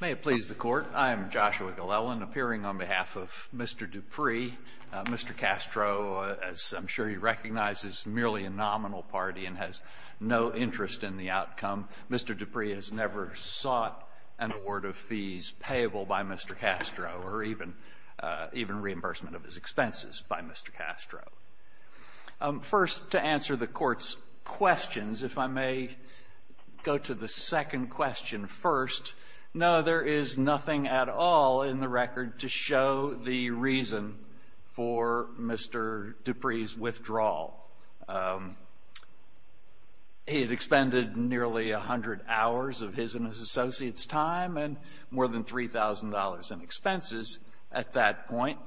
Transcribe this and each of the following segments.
May it please the Court, I am Joshua Glellen, appearing on behalf of Mr. Dupree. Mr. Castro, as I'm sure you recognize, is merely a nominal party and has no interest in the outcome. Mr. Dupree has never sought an award of fees payable by Mr. Castro or even reimbursement of his expenses by Mr. Castro. First, to answer the Court's questions, if I may go to the second question first. No, there is nothing at all in the record to show the reason for Mr. Dupree's withdrawal. He had expended nearly 100 hours of his and his associates' time and more than $3,000 in expenses at that point.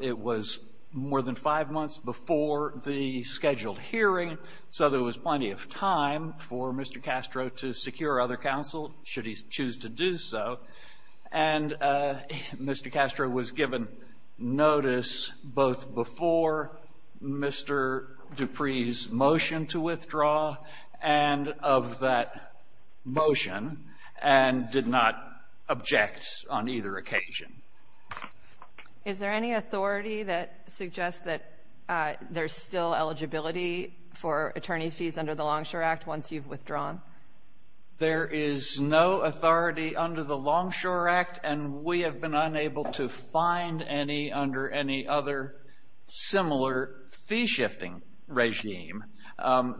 It was more than five months before the scheduled hearing, so there was plenty of time for Mr. Castro to secure other counsel, should he choose to do so. And Mr. Castro was given notice both before Mr. Dupree's motion to withdraw and of that motion and did not object on either occasion. Is there any authority that suggests that there's still eligibility for attorney fees under the Longshore Act once you've withdrawn? There is no authority under the Longshore Act, and we have been unable to find any under any other similar fee-shifting regime.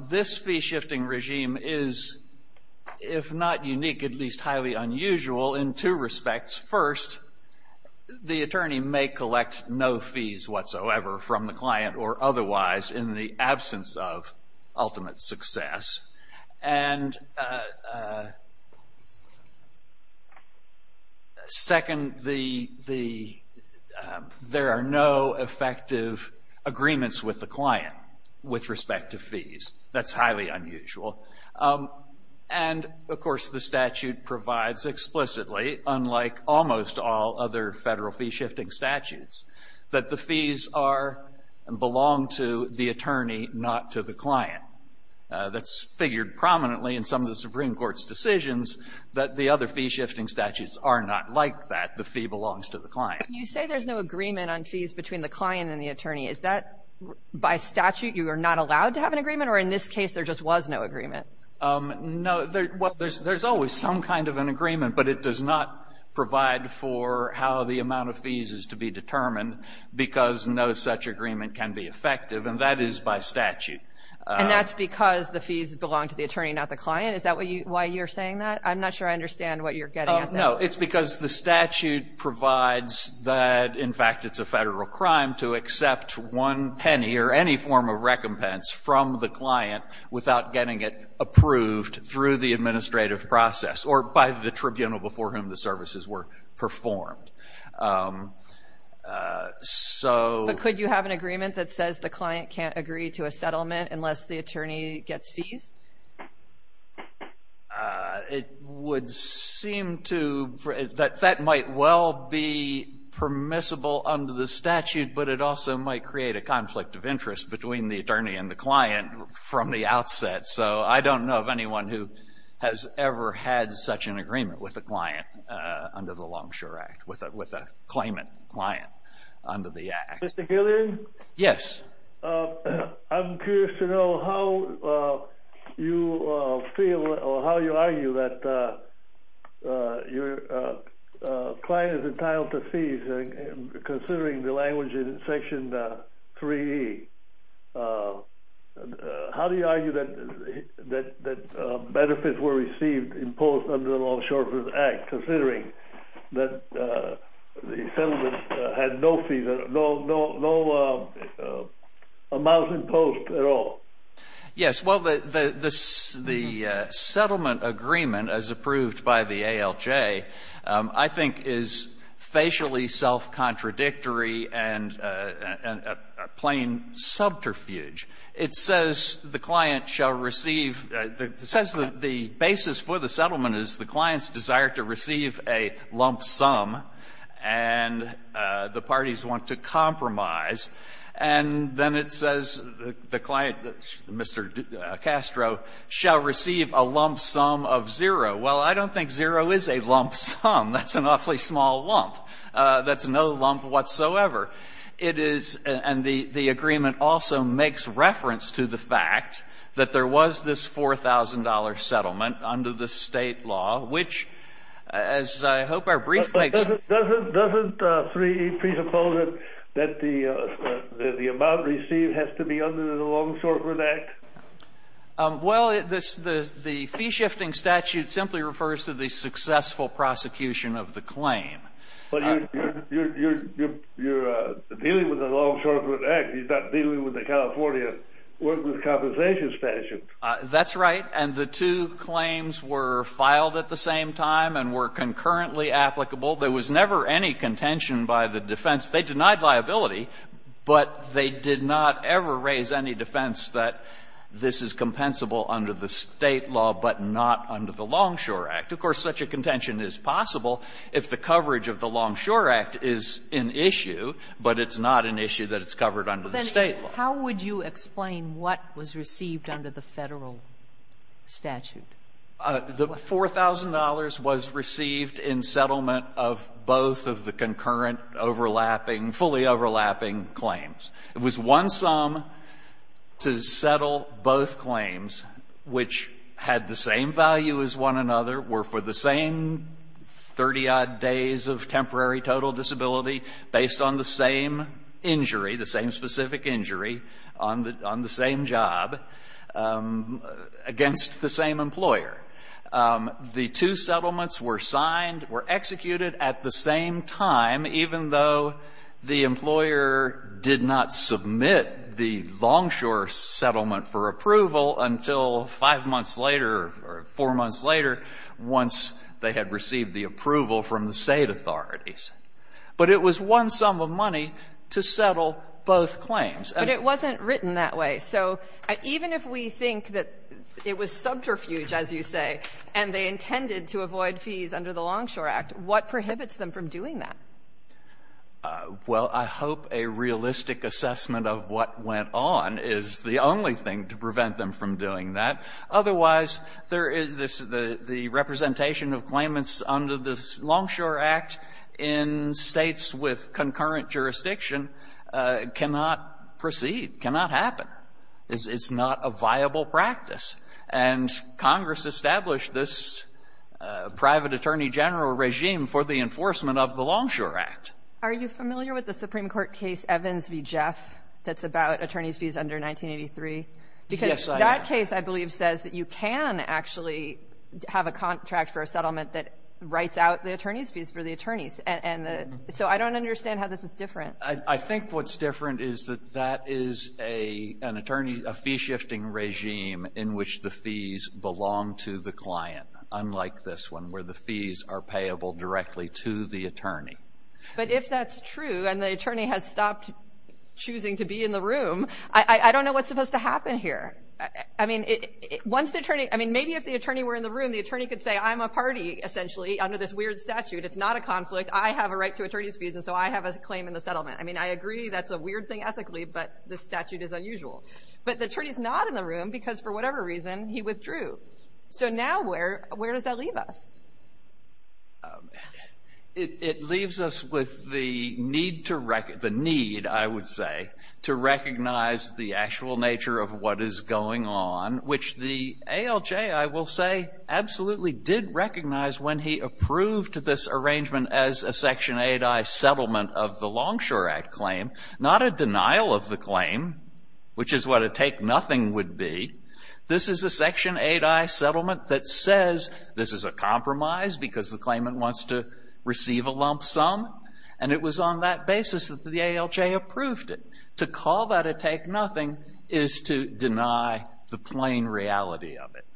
This fee-shifting regime is, if not unique, at least highly unusual in two respects. First, the attorney may collect no fees whatsoever from the client or otherwise in the absence of ultimate success. And second, there are no effective agreements with the client with respect to fees. That's highly unusual. And, of course, the statute provides explicitly, unlike almost all other federal fee-shifting statutes, that the fees belong to the attorney, not to the client. That's figured prominently in some of the Supreme Court's decisions that the other fee-shifting statutes are not like that. The fee belongs to the client. When you say there's no agreement on fees between the client and the attorney, is that by statute you are not allowed to have an agreement, or in this case there just was no agreement? No. There's always some kind of an agreement, but it does not provide for how the amount of fees is to be determined because no such agreement can be effective, and that is by statute. And that's because the fees belong to the attorney, not the client? Is that why you're saying that? I'm not sure I understand what you're getting at there. No, it's because the statute provides that, in fact, it's a federal crime to accept one penny or any form of recompense from the client without getting it approved through the administrative process or by the tribunal before whom the services were performed. But could you have an agreement that says the client can't agree to a settlement unless the attorney gets fees? It would seem that that might well be permissible under the statute, but it also might create a conflict of interest between the attorney and the client from the outset. So I don't know of anyone who has ever had such an agreement with a client under the Longshore Act, with a claimant client under the Act. Mr. Gillian? Yes. I'm curious to know how you feel or how you argue that your client is entitled to fees considering the language in Section 3E. How do you argue that benefits were received imposed under the Longshore Act considering that the settlement had no fees, no amounts imposed at all? Yes. Well, the settlement agreement as approved by the ALJ, I think, is facially self-contradictory and a plain subterfuge. It says the client shall receive the basis for the settlement is the client's desire to receive a lump sum and the parties want to compromise. And then it says the client, Mr. Castro, shall receive a lump sum of zero. Well, I don't think zero is a lump sum. That's an awfully small lump. That's no lump whatsoever. And the agreement also makes reference to the fact that there was this $4,000 settlement under the state law, which, as I hope our brief makes... Doesn't 3E presuppose that the amount received has to be under the Longshore Grant Act? Well, the fee-shifting statute simply refers to the successful prosecution of the claim. But you're dealing with the Longshore Grant Act. You're not dealing with the California Work With Compensation Statute. That's right. And the two claims were filed at the same time and were concurrently applicable. There was never any contention by the defense. They denied liability, but they did not ever raise any defense that this is compensable under the state law but not under the Longshore Act. Of course, such a contention is possible if the coverage of the Longshore Act is an issue, but it's not an issue that it's covered under the state law. How would you explain what was received under the Federal statute? The $4,000 was received in settlement of both of the concurrent, overlapping, fully overlapping claims. It was one sum to settle both claims, which had the same value as one another, were for the same 30-odd days of temporary total disability based on the same injury, the same specific injury on the same job against the same employer. The two settlements were signed, were executed at the same time, even though the employer did not submit the Longshore settlement for approval until five months later or four months later once they had received the approval from the state authorities. But it was one sum of money to settle both claims. And it wasn't written that way. So even if we think that it was subterfuge, as you say, and they intended to avoid fees under the Longshore Act, what prohibits them from doing that? Well, I hope a realistic assessment of what went on is the only thing to prevent them from doing that. Otherwise, there is the representation of claimants under the Longshore Act in the United States. And in states with concurrent jurisdiction, it cannot proceed, cannot happen. It's not a viable practice. And Congress established this private attorney general regime for the enforcement of the Longshore Act. Are you familiar with the Supreme Court case Evans v. Jeff that's about attorneys' fees under 1983? Yes, I am. Because that case, I believe, says that you can actually have a contract for a settlement that writes out the attorneys' fees for the attorneys. And so I don't understand how this is different. I think what's different is that that is an attorney, a fee-shifting regime in which the fees belong to the client, unlike this one where the fees are payable directly to the attorney. But if that's true and the attorney has stopped choosing to be in the room, I don't know what's supposed to happen here. I mean, once the attorney – I mean, maybe if the attorney were in the room, the weird statute, it's not a conflict, I have a right to attorneys' fees, and so I have a claim in the settlement. I mean, I agree that's a weird thing ethically, but the statute is unusual. But the attorney's not in the room because, for whatever reason, he withdrew. So now where does that leave us? It leaves us with the need, I would say, to recognize the actual nature of what is going on, which the ALJ, I will say, absolutely did recognize when he approved this arrangement as a Section 8i settlement of the Longshore Act claim, not a denial of the claim, which is what a take-nothing would be. This is a Section 8i settlement that says this is a compromise because the claimant wants to receive a lump sum, and it was on that basis that the ALJ approved it. To call that a take-nothing is to deny the plain reality of it.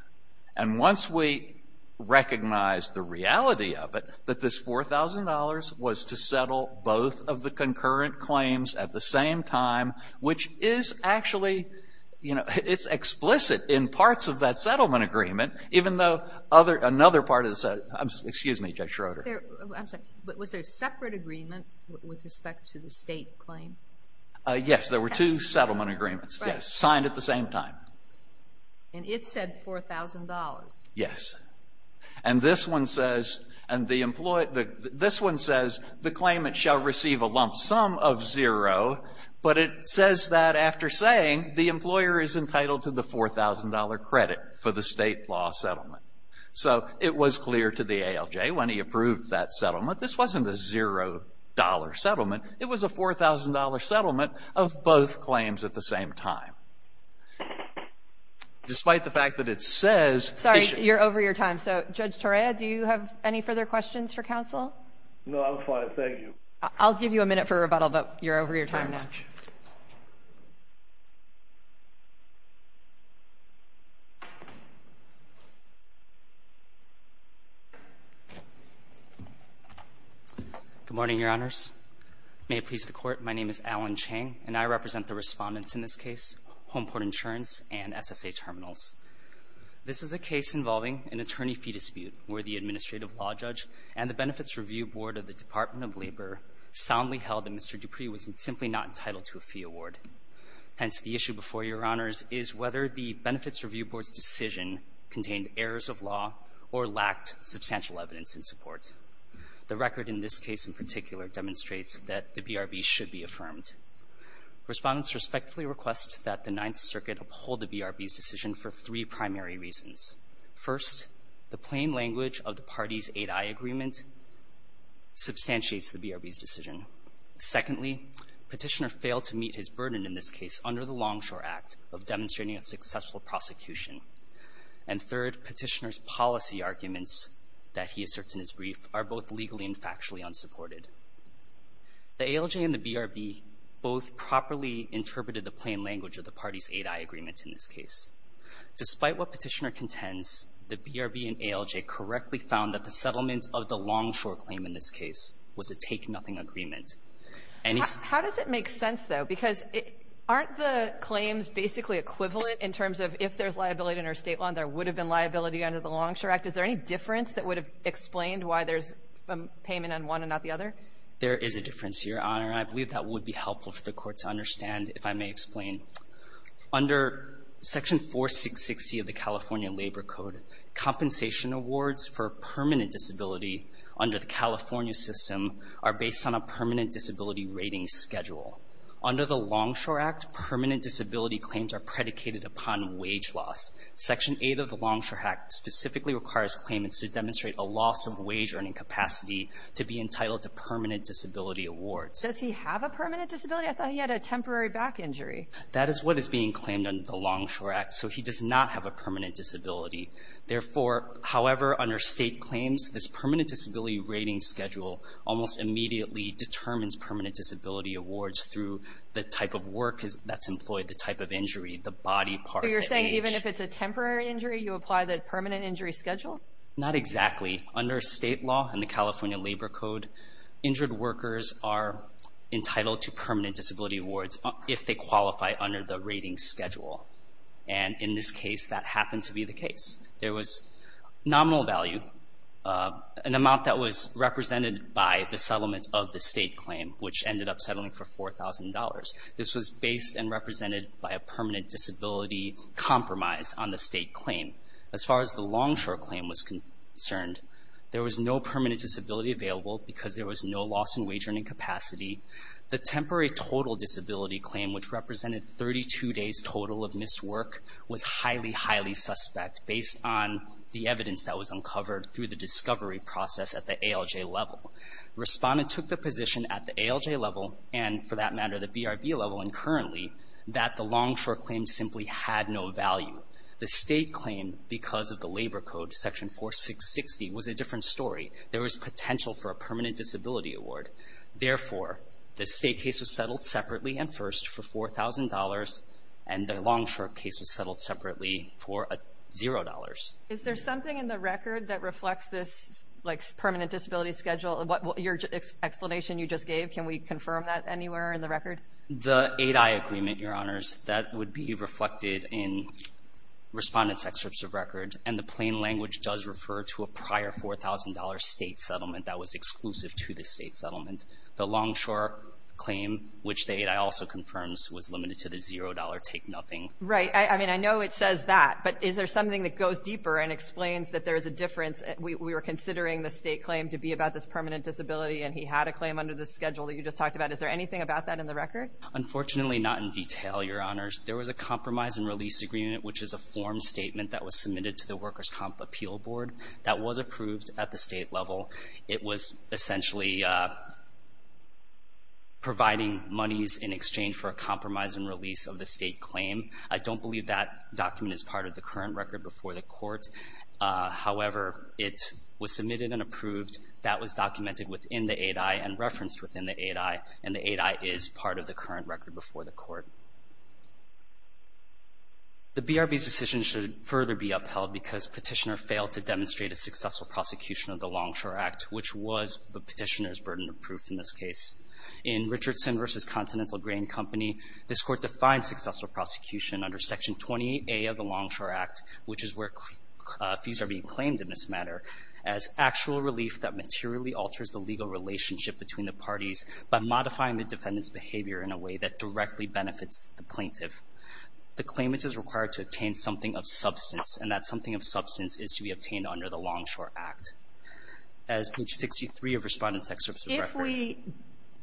And once we recognize the reality of it, that this $4,000 was to settle both of the concurrent claims at the same time, which is actually, you know, it's explicit in parts of that settlement agreement, even though another part of the – excuse me, Judge Schroeder. I'm sorry. But was there a separate agreement with respect to the State claim? Yes. There were two settlement agreements. Right. Yes. Signed at the same time. And it said $4,000. Yes. And this one says – and the – this one says the claimant shall receive a lump sum of zero, but it says that after saying, the employer is entitled to the $4,000 credit for the State law settlement. So it was clear to the ALJ when he approved that settlement. This wasn't a $0 settlement. It was a $4,000 settlement of both claims at the same time. Despite the fact that it says – Sorry. You're over your time. So, Judge Torea, do you have any further questions for counsel? No, I'm fine. Thank you. I'll give you a minute for rebuttal, but you're over your time now. Good morning, Your Honors. May it please the Court, my name is Alan Chang, and I represent the Respondents in this case, Homeport Insurance and SSA Terminals. This is a case involving an attorney-fee dispute where the administrative law judge and the Benefits Review Board of the Department of Labor soundly held that Mr. Dupree was simply not entitled to a fee award. Hence, the issue before Your Honors is whether the Benefits Review Board's decision contained errors of law or lacked substantial evidence in support. The record in this case in particular demonstrates that the BRB should be affirmed. Respondents respectfully request that the Ninth Circuit uphold the BRB's decision for three primary reasons. First, the plain language of the party's 8i agreement substantiates the BRB's decision. Secondly, Petitioner failed to meet his burden in this case under the Longshore Act of demonstrating a successful prosecution. And third, Petitioner's policy arguments that he asserts in his brief are both legally and factually unsupported. The ALJ and the BRB both properly interpreted the plain language of the party's 8i agreement in this case. Despite what Petitioner contends, the BRB and ALJ correctly found that the settlement of the Longshore claim in this case was a take-nothing agreement. And he's — How does it make sense, though? Because aren't the claims basically equivalent in terms of if there's liability under a State law and there would have been liability under the Longshore Act? Is there any difference that would have explained why there's a payment on one and not the other? There is a difference, Your Honor. And I believe that would be helpful for the Court to understand if I may explain. Under Section 4660 of the California Labor Code, compensation awards for permanent disability under the California system are based on a permanent disability rating schedule. Under the Longshore Act, permanent disability claims are predicated upon wage loss. Section 8 of the Longshore Act specifically requires claimants to demonstrate a loss of wage earning capacity to be entitled to permanent disability awards. Does he have a permanent disability? I thought he had a temporary back injury. That is what is being claimed under the Longshore Act. So he does not have a permanent disability. Therefore, however, under State claims, this permanent disability rating schedule almost immediately determines permanent disability awards through the type of work that's employed, the type of injury, the body part, the age. So you're saying even if it's a temporary injury, you apply the permanent injury schedule? Not exactly. Under State law and the California Labor Code, injured workers are entitled to permanent disability awards if they qualify under the rating schedule. And in this case, that happened to be the case. There was nominal value, an amount that was represented by the settlement of the State claim, which ended up settling for $4,000. This was based and represented by a permanent disability compromise on the State claim. As far as the Longshore claim was concerned, there was no permanent disability available because there was no loss in wage earning capacity. The temporary total disability claim, which represented 32 days total of missed work, was highly, highly suspect based on the evidence that was uncovered through the discovery process at the ALJ level. Respondent took the position at the ALJ level and, for that matter, the BRB level and currently, that the Longshore claim simply had no value. The State claim, because of the Labor Code, Section 4660, was a different story. There was potential for a permanent disability award. Therefore, the State case was settled separately and first for $4,000 and the Longshore case was settled separately for $0. Is there something in the record that reflects this permanent disability schedule? Your explanation you just gave, can we confirm that anywhere in the record? The 8i agreement, Your Honors, that would be reflected in Respondent's excerpts of record and the plain language does refer to a prior $4,000 State settlement that was exclusive to the State settlement. The Longshore claim, which the 8i also confirms, was limited to the $0 take Right. I mean, I know it says that, but is there something that goes deeper and explains that there is a difference? We were considering the State claim to be about this permanent disability and he had a claim under the schedule that you just talked about. Is there anything about that in the record? Unfortunately, not in detail, Your Honors. There was a compromise and release agreement, which is a form statement that was submitted to the Workers' Comp Appeal Board that was approved at the State level. It was essentially providing monies in exchange for a compromise and release of the State claim. I don't believe that document is part of the current record before the Court. However, it was submitted and approved. That was documented within the 8i and referenced within the 8i, and the 8i is part of the current record before the Court. The BRB's decision should further be upheld because Petitioner failed to demonstrate a successful prosecution of the Longshore Act, which was the Petitioner's burden of proof in this case. In Richardson v. Continental Grain Company, this Court defined successful prosecution under Section 28A of the Longshore Act, which is where fees are being claimed in this matter, as actual relief that materially alters the legal relationship between the parties by modifying the defendant's behavior in a way that directly benefits the plaintiff. The claimant is required to obtain something of substance, and that something of substance is to be obtained under the Longshore Act. As page 63 of Respondent's Excerpt of Reference. We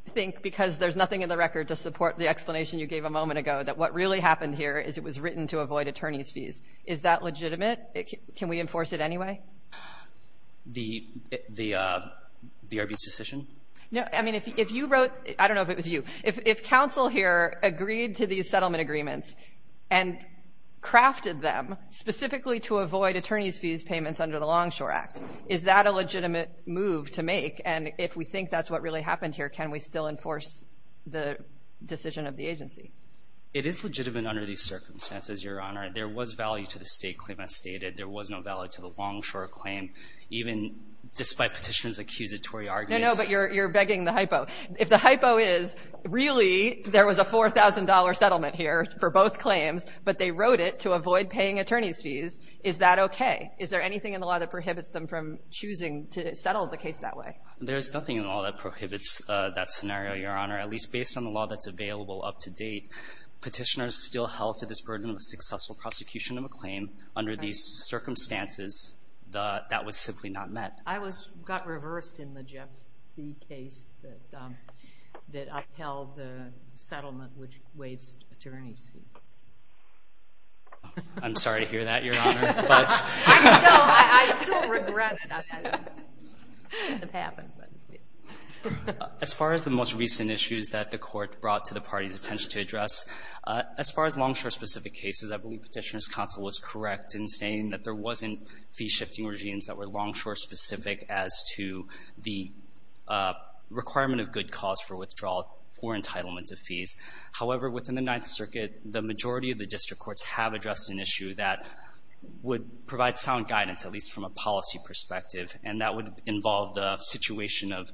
think, because there's nothing in the record to support the explanation you gave a moment ago, that what really happened here is it was written to avoid attorneys' fees. Is that legitimate? Can we enforce it anyway? The BRB's decision? No, I mean, if you wrote, I don't know if it was you, if counsel here agreed to these settlement agreements and crafted them specifically to avoid attorneys' fees payments under the Longshore Act, is that a legitimate move to make? And if we think that's what really happened here, can we still enforce the decision of the agency? It is legitimate under these circumstances, Your Honor. There was value to the state claim as stated. There was no value to the Longshore claim, even despite Petitioner's accusatory arguments. No, no, but you're begging the hypo. If the hypo is, really, there was a $4,000 settlement here for both claims, but they wrote it to avoid paying attorneys' fees, is that okay? Is there anything in the law that prohibits them from choosing to settle the case that way? There's nothing in the law that prohibits that scenario, Your Honor, at least based on the law that's available up to date. Petitioner's still held to this burden of a successful prosecution of a claim under these circumstances. That was simply not met. I got reversed in the Jeff Fee case that upheld the settlement which waived attorneys' fees. I'm sorry to hear that, Your Honor. I still regret it. It happened. As far as the most recent issues that the Court brought to the party's attention to address, as far as Longshore-specific cases, I believe Petitioner's counsel was correct in saying that there wasn't fee-shifting regimes that were Longshore- specific as to the requirement of good cause for withdrawal or entitlement of fees. However, within the Ninth Circuit, the majority of the district courts have provided sound guidance, at least from a policy perspective, and that would involve the situation of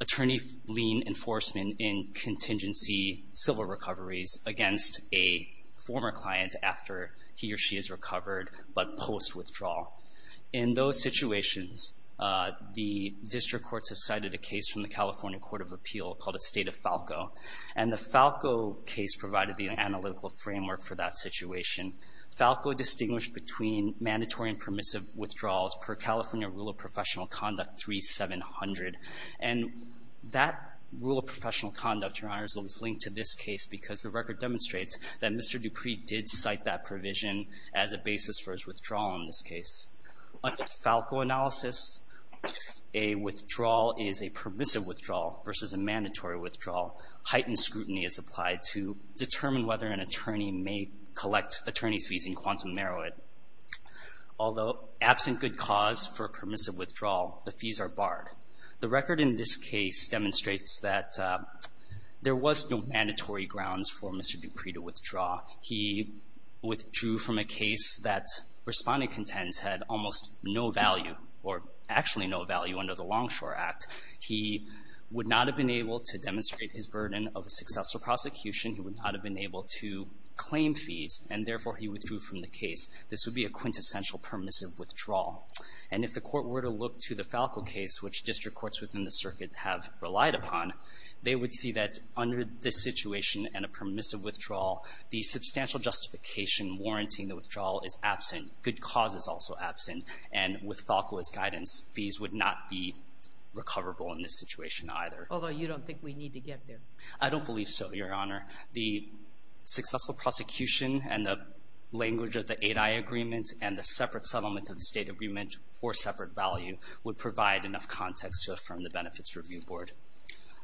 attorney lien enforcement in contingency civil recoveries against a former client after he or she is recovered but post withdrawal. In those situations, the district courts have cited a case from the California Court of Appeal called a State of Falco, and the Falco case provided the analytical framework for that situation. Falco distinguished between mandatory and permissive withdrawals per California Rule of Professional Conduct 3700. And that Rule of Professional Conduct, Your Honor, is linked to this case because the record demonstrates that Mr. Dupree did cite that provision as a basis for his withdrawal in this case. Under the Falco analysis, if a withdrawal is a permissive withdrawal versus a mandatory withdrawal, heightened scrutiny is applied to determine whether an attorney may collect attorney's fees in quantum merit. Although absent good cause for permissive withdrawal, the fees are barred. The record in this case demonstrates that there was no mandatory grounds for Mr. Dupree to withdraw. He withdrew from a case that Respondent contends had almost no value or actually no value under the Longshore Act. He would not have been able to demonstrate his burden of a successful prosecution. He would not have been able to claim fees, and therefore he withdrew from the case. This would be a quintessential permissive withdrawal. And if the Court were to look to the Falco case, which district courts within the circuit have relied upon, they would see that under this situation and a permissive withdrawal, the substantial justification warranting the withdrawal is absent. Good cause is also absent. And with Falco's guidance, fees would not be recoverable in this situation either. Although you don't think we need to get there. I don't believe so, Your Honor. The successful prosecution and the language of the 8i agreement and the separate settlement of the State agreement for separate value would provide enough context to affirm the Benefits Review Board.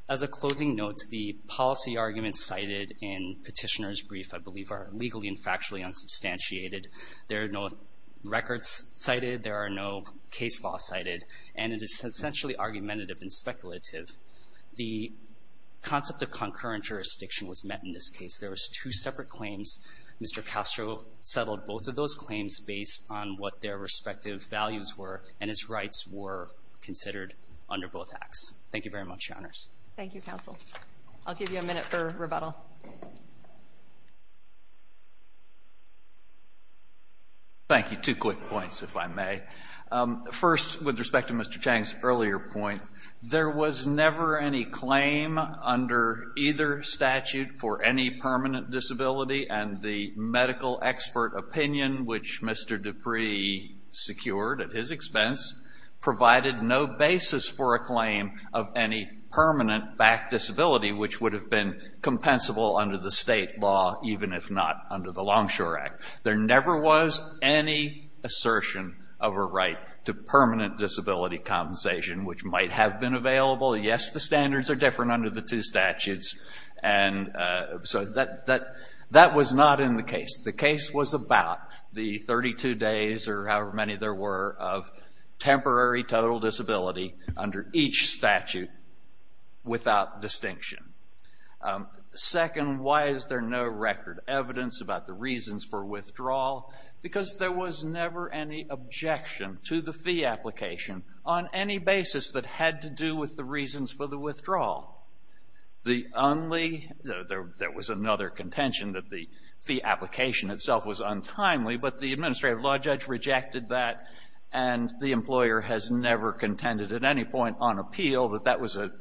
As a closing note, the policy arguments cited in Petitioner's brief, I believe, are legally and factually unsubstantiated. There are no records cited. There are no case laws cited. And it is essentially argumentative and speculative. The concept of concurrent jurisdiction was met in this case. There was two separate claims. Mr. Castro settled both of those claims based on what their respective values were, and his rights were considered under both acts. Thank you very much, Your Honors. Thank you, counsel. I'll give you a minute for rebuttal. Thank you. Two quick points, if I may. First, with respect to Mr. Chang's earlier point, there was never any claim under either statute for any permanent disability, and the medical expert opinion, which Mr. Dupree secured at his expense, provided no basis for a claim of any permanent back disability, which would have been compensable under the State law, even if not under the Longshore Act. There never was any assertion of a right to permanent disability compensation, which might have been available. Yes, the standards are different under the two statutes. And so that was not in the case. The case was about the 32 days, or however many there were, of temporary total disability under each statute without distinction. Second, why is there no record evidence about the reasons for withdrawal? Because there was never any objection to the fee application on any basis that had to do with the reasons for the withdrawal. There was another contention that the fee application itself was untimely, but the administrative law judge rejected that, and the employer has never contended at any point on appeal that that was an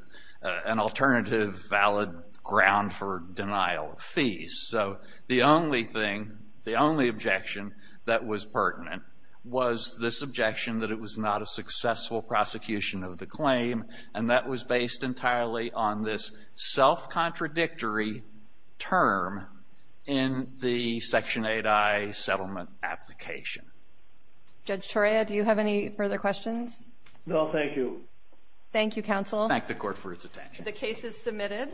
alternative valid ground for denial of fees. So the only thing, the only objection that was pertinent was this objection that it was not a successful prosecution of the claim, and that was based entirely on this self-contradictory term in the Section 8i settlement application. Judge Toria, do you have any further questions? No, thank you. Thank you, counsel. Thank the court for its attention. The case is submitted.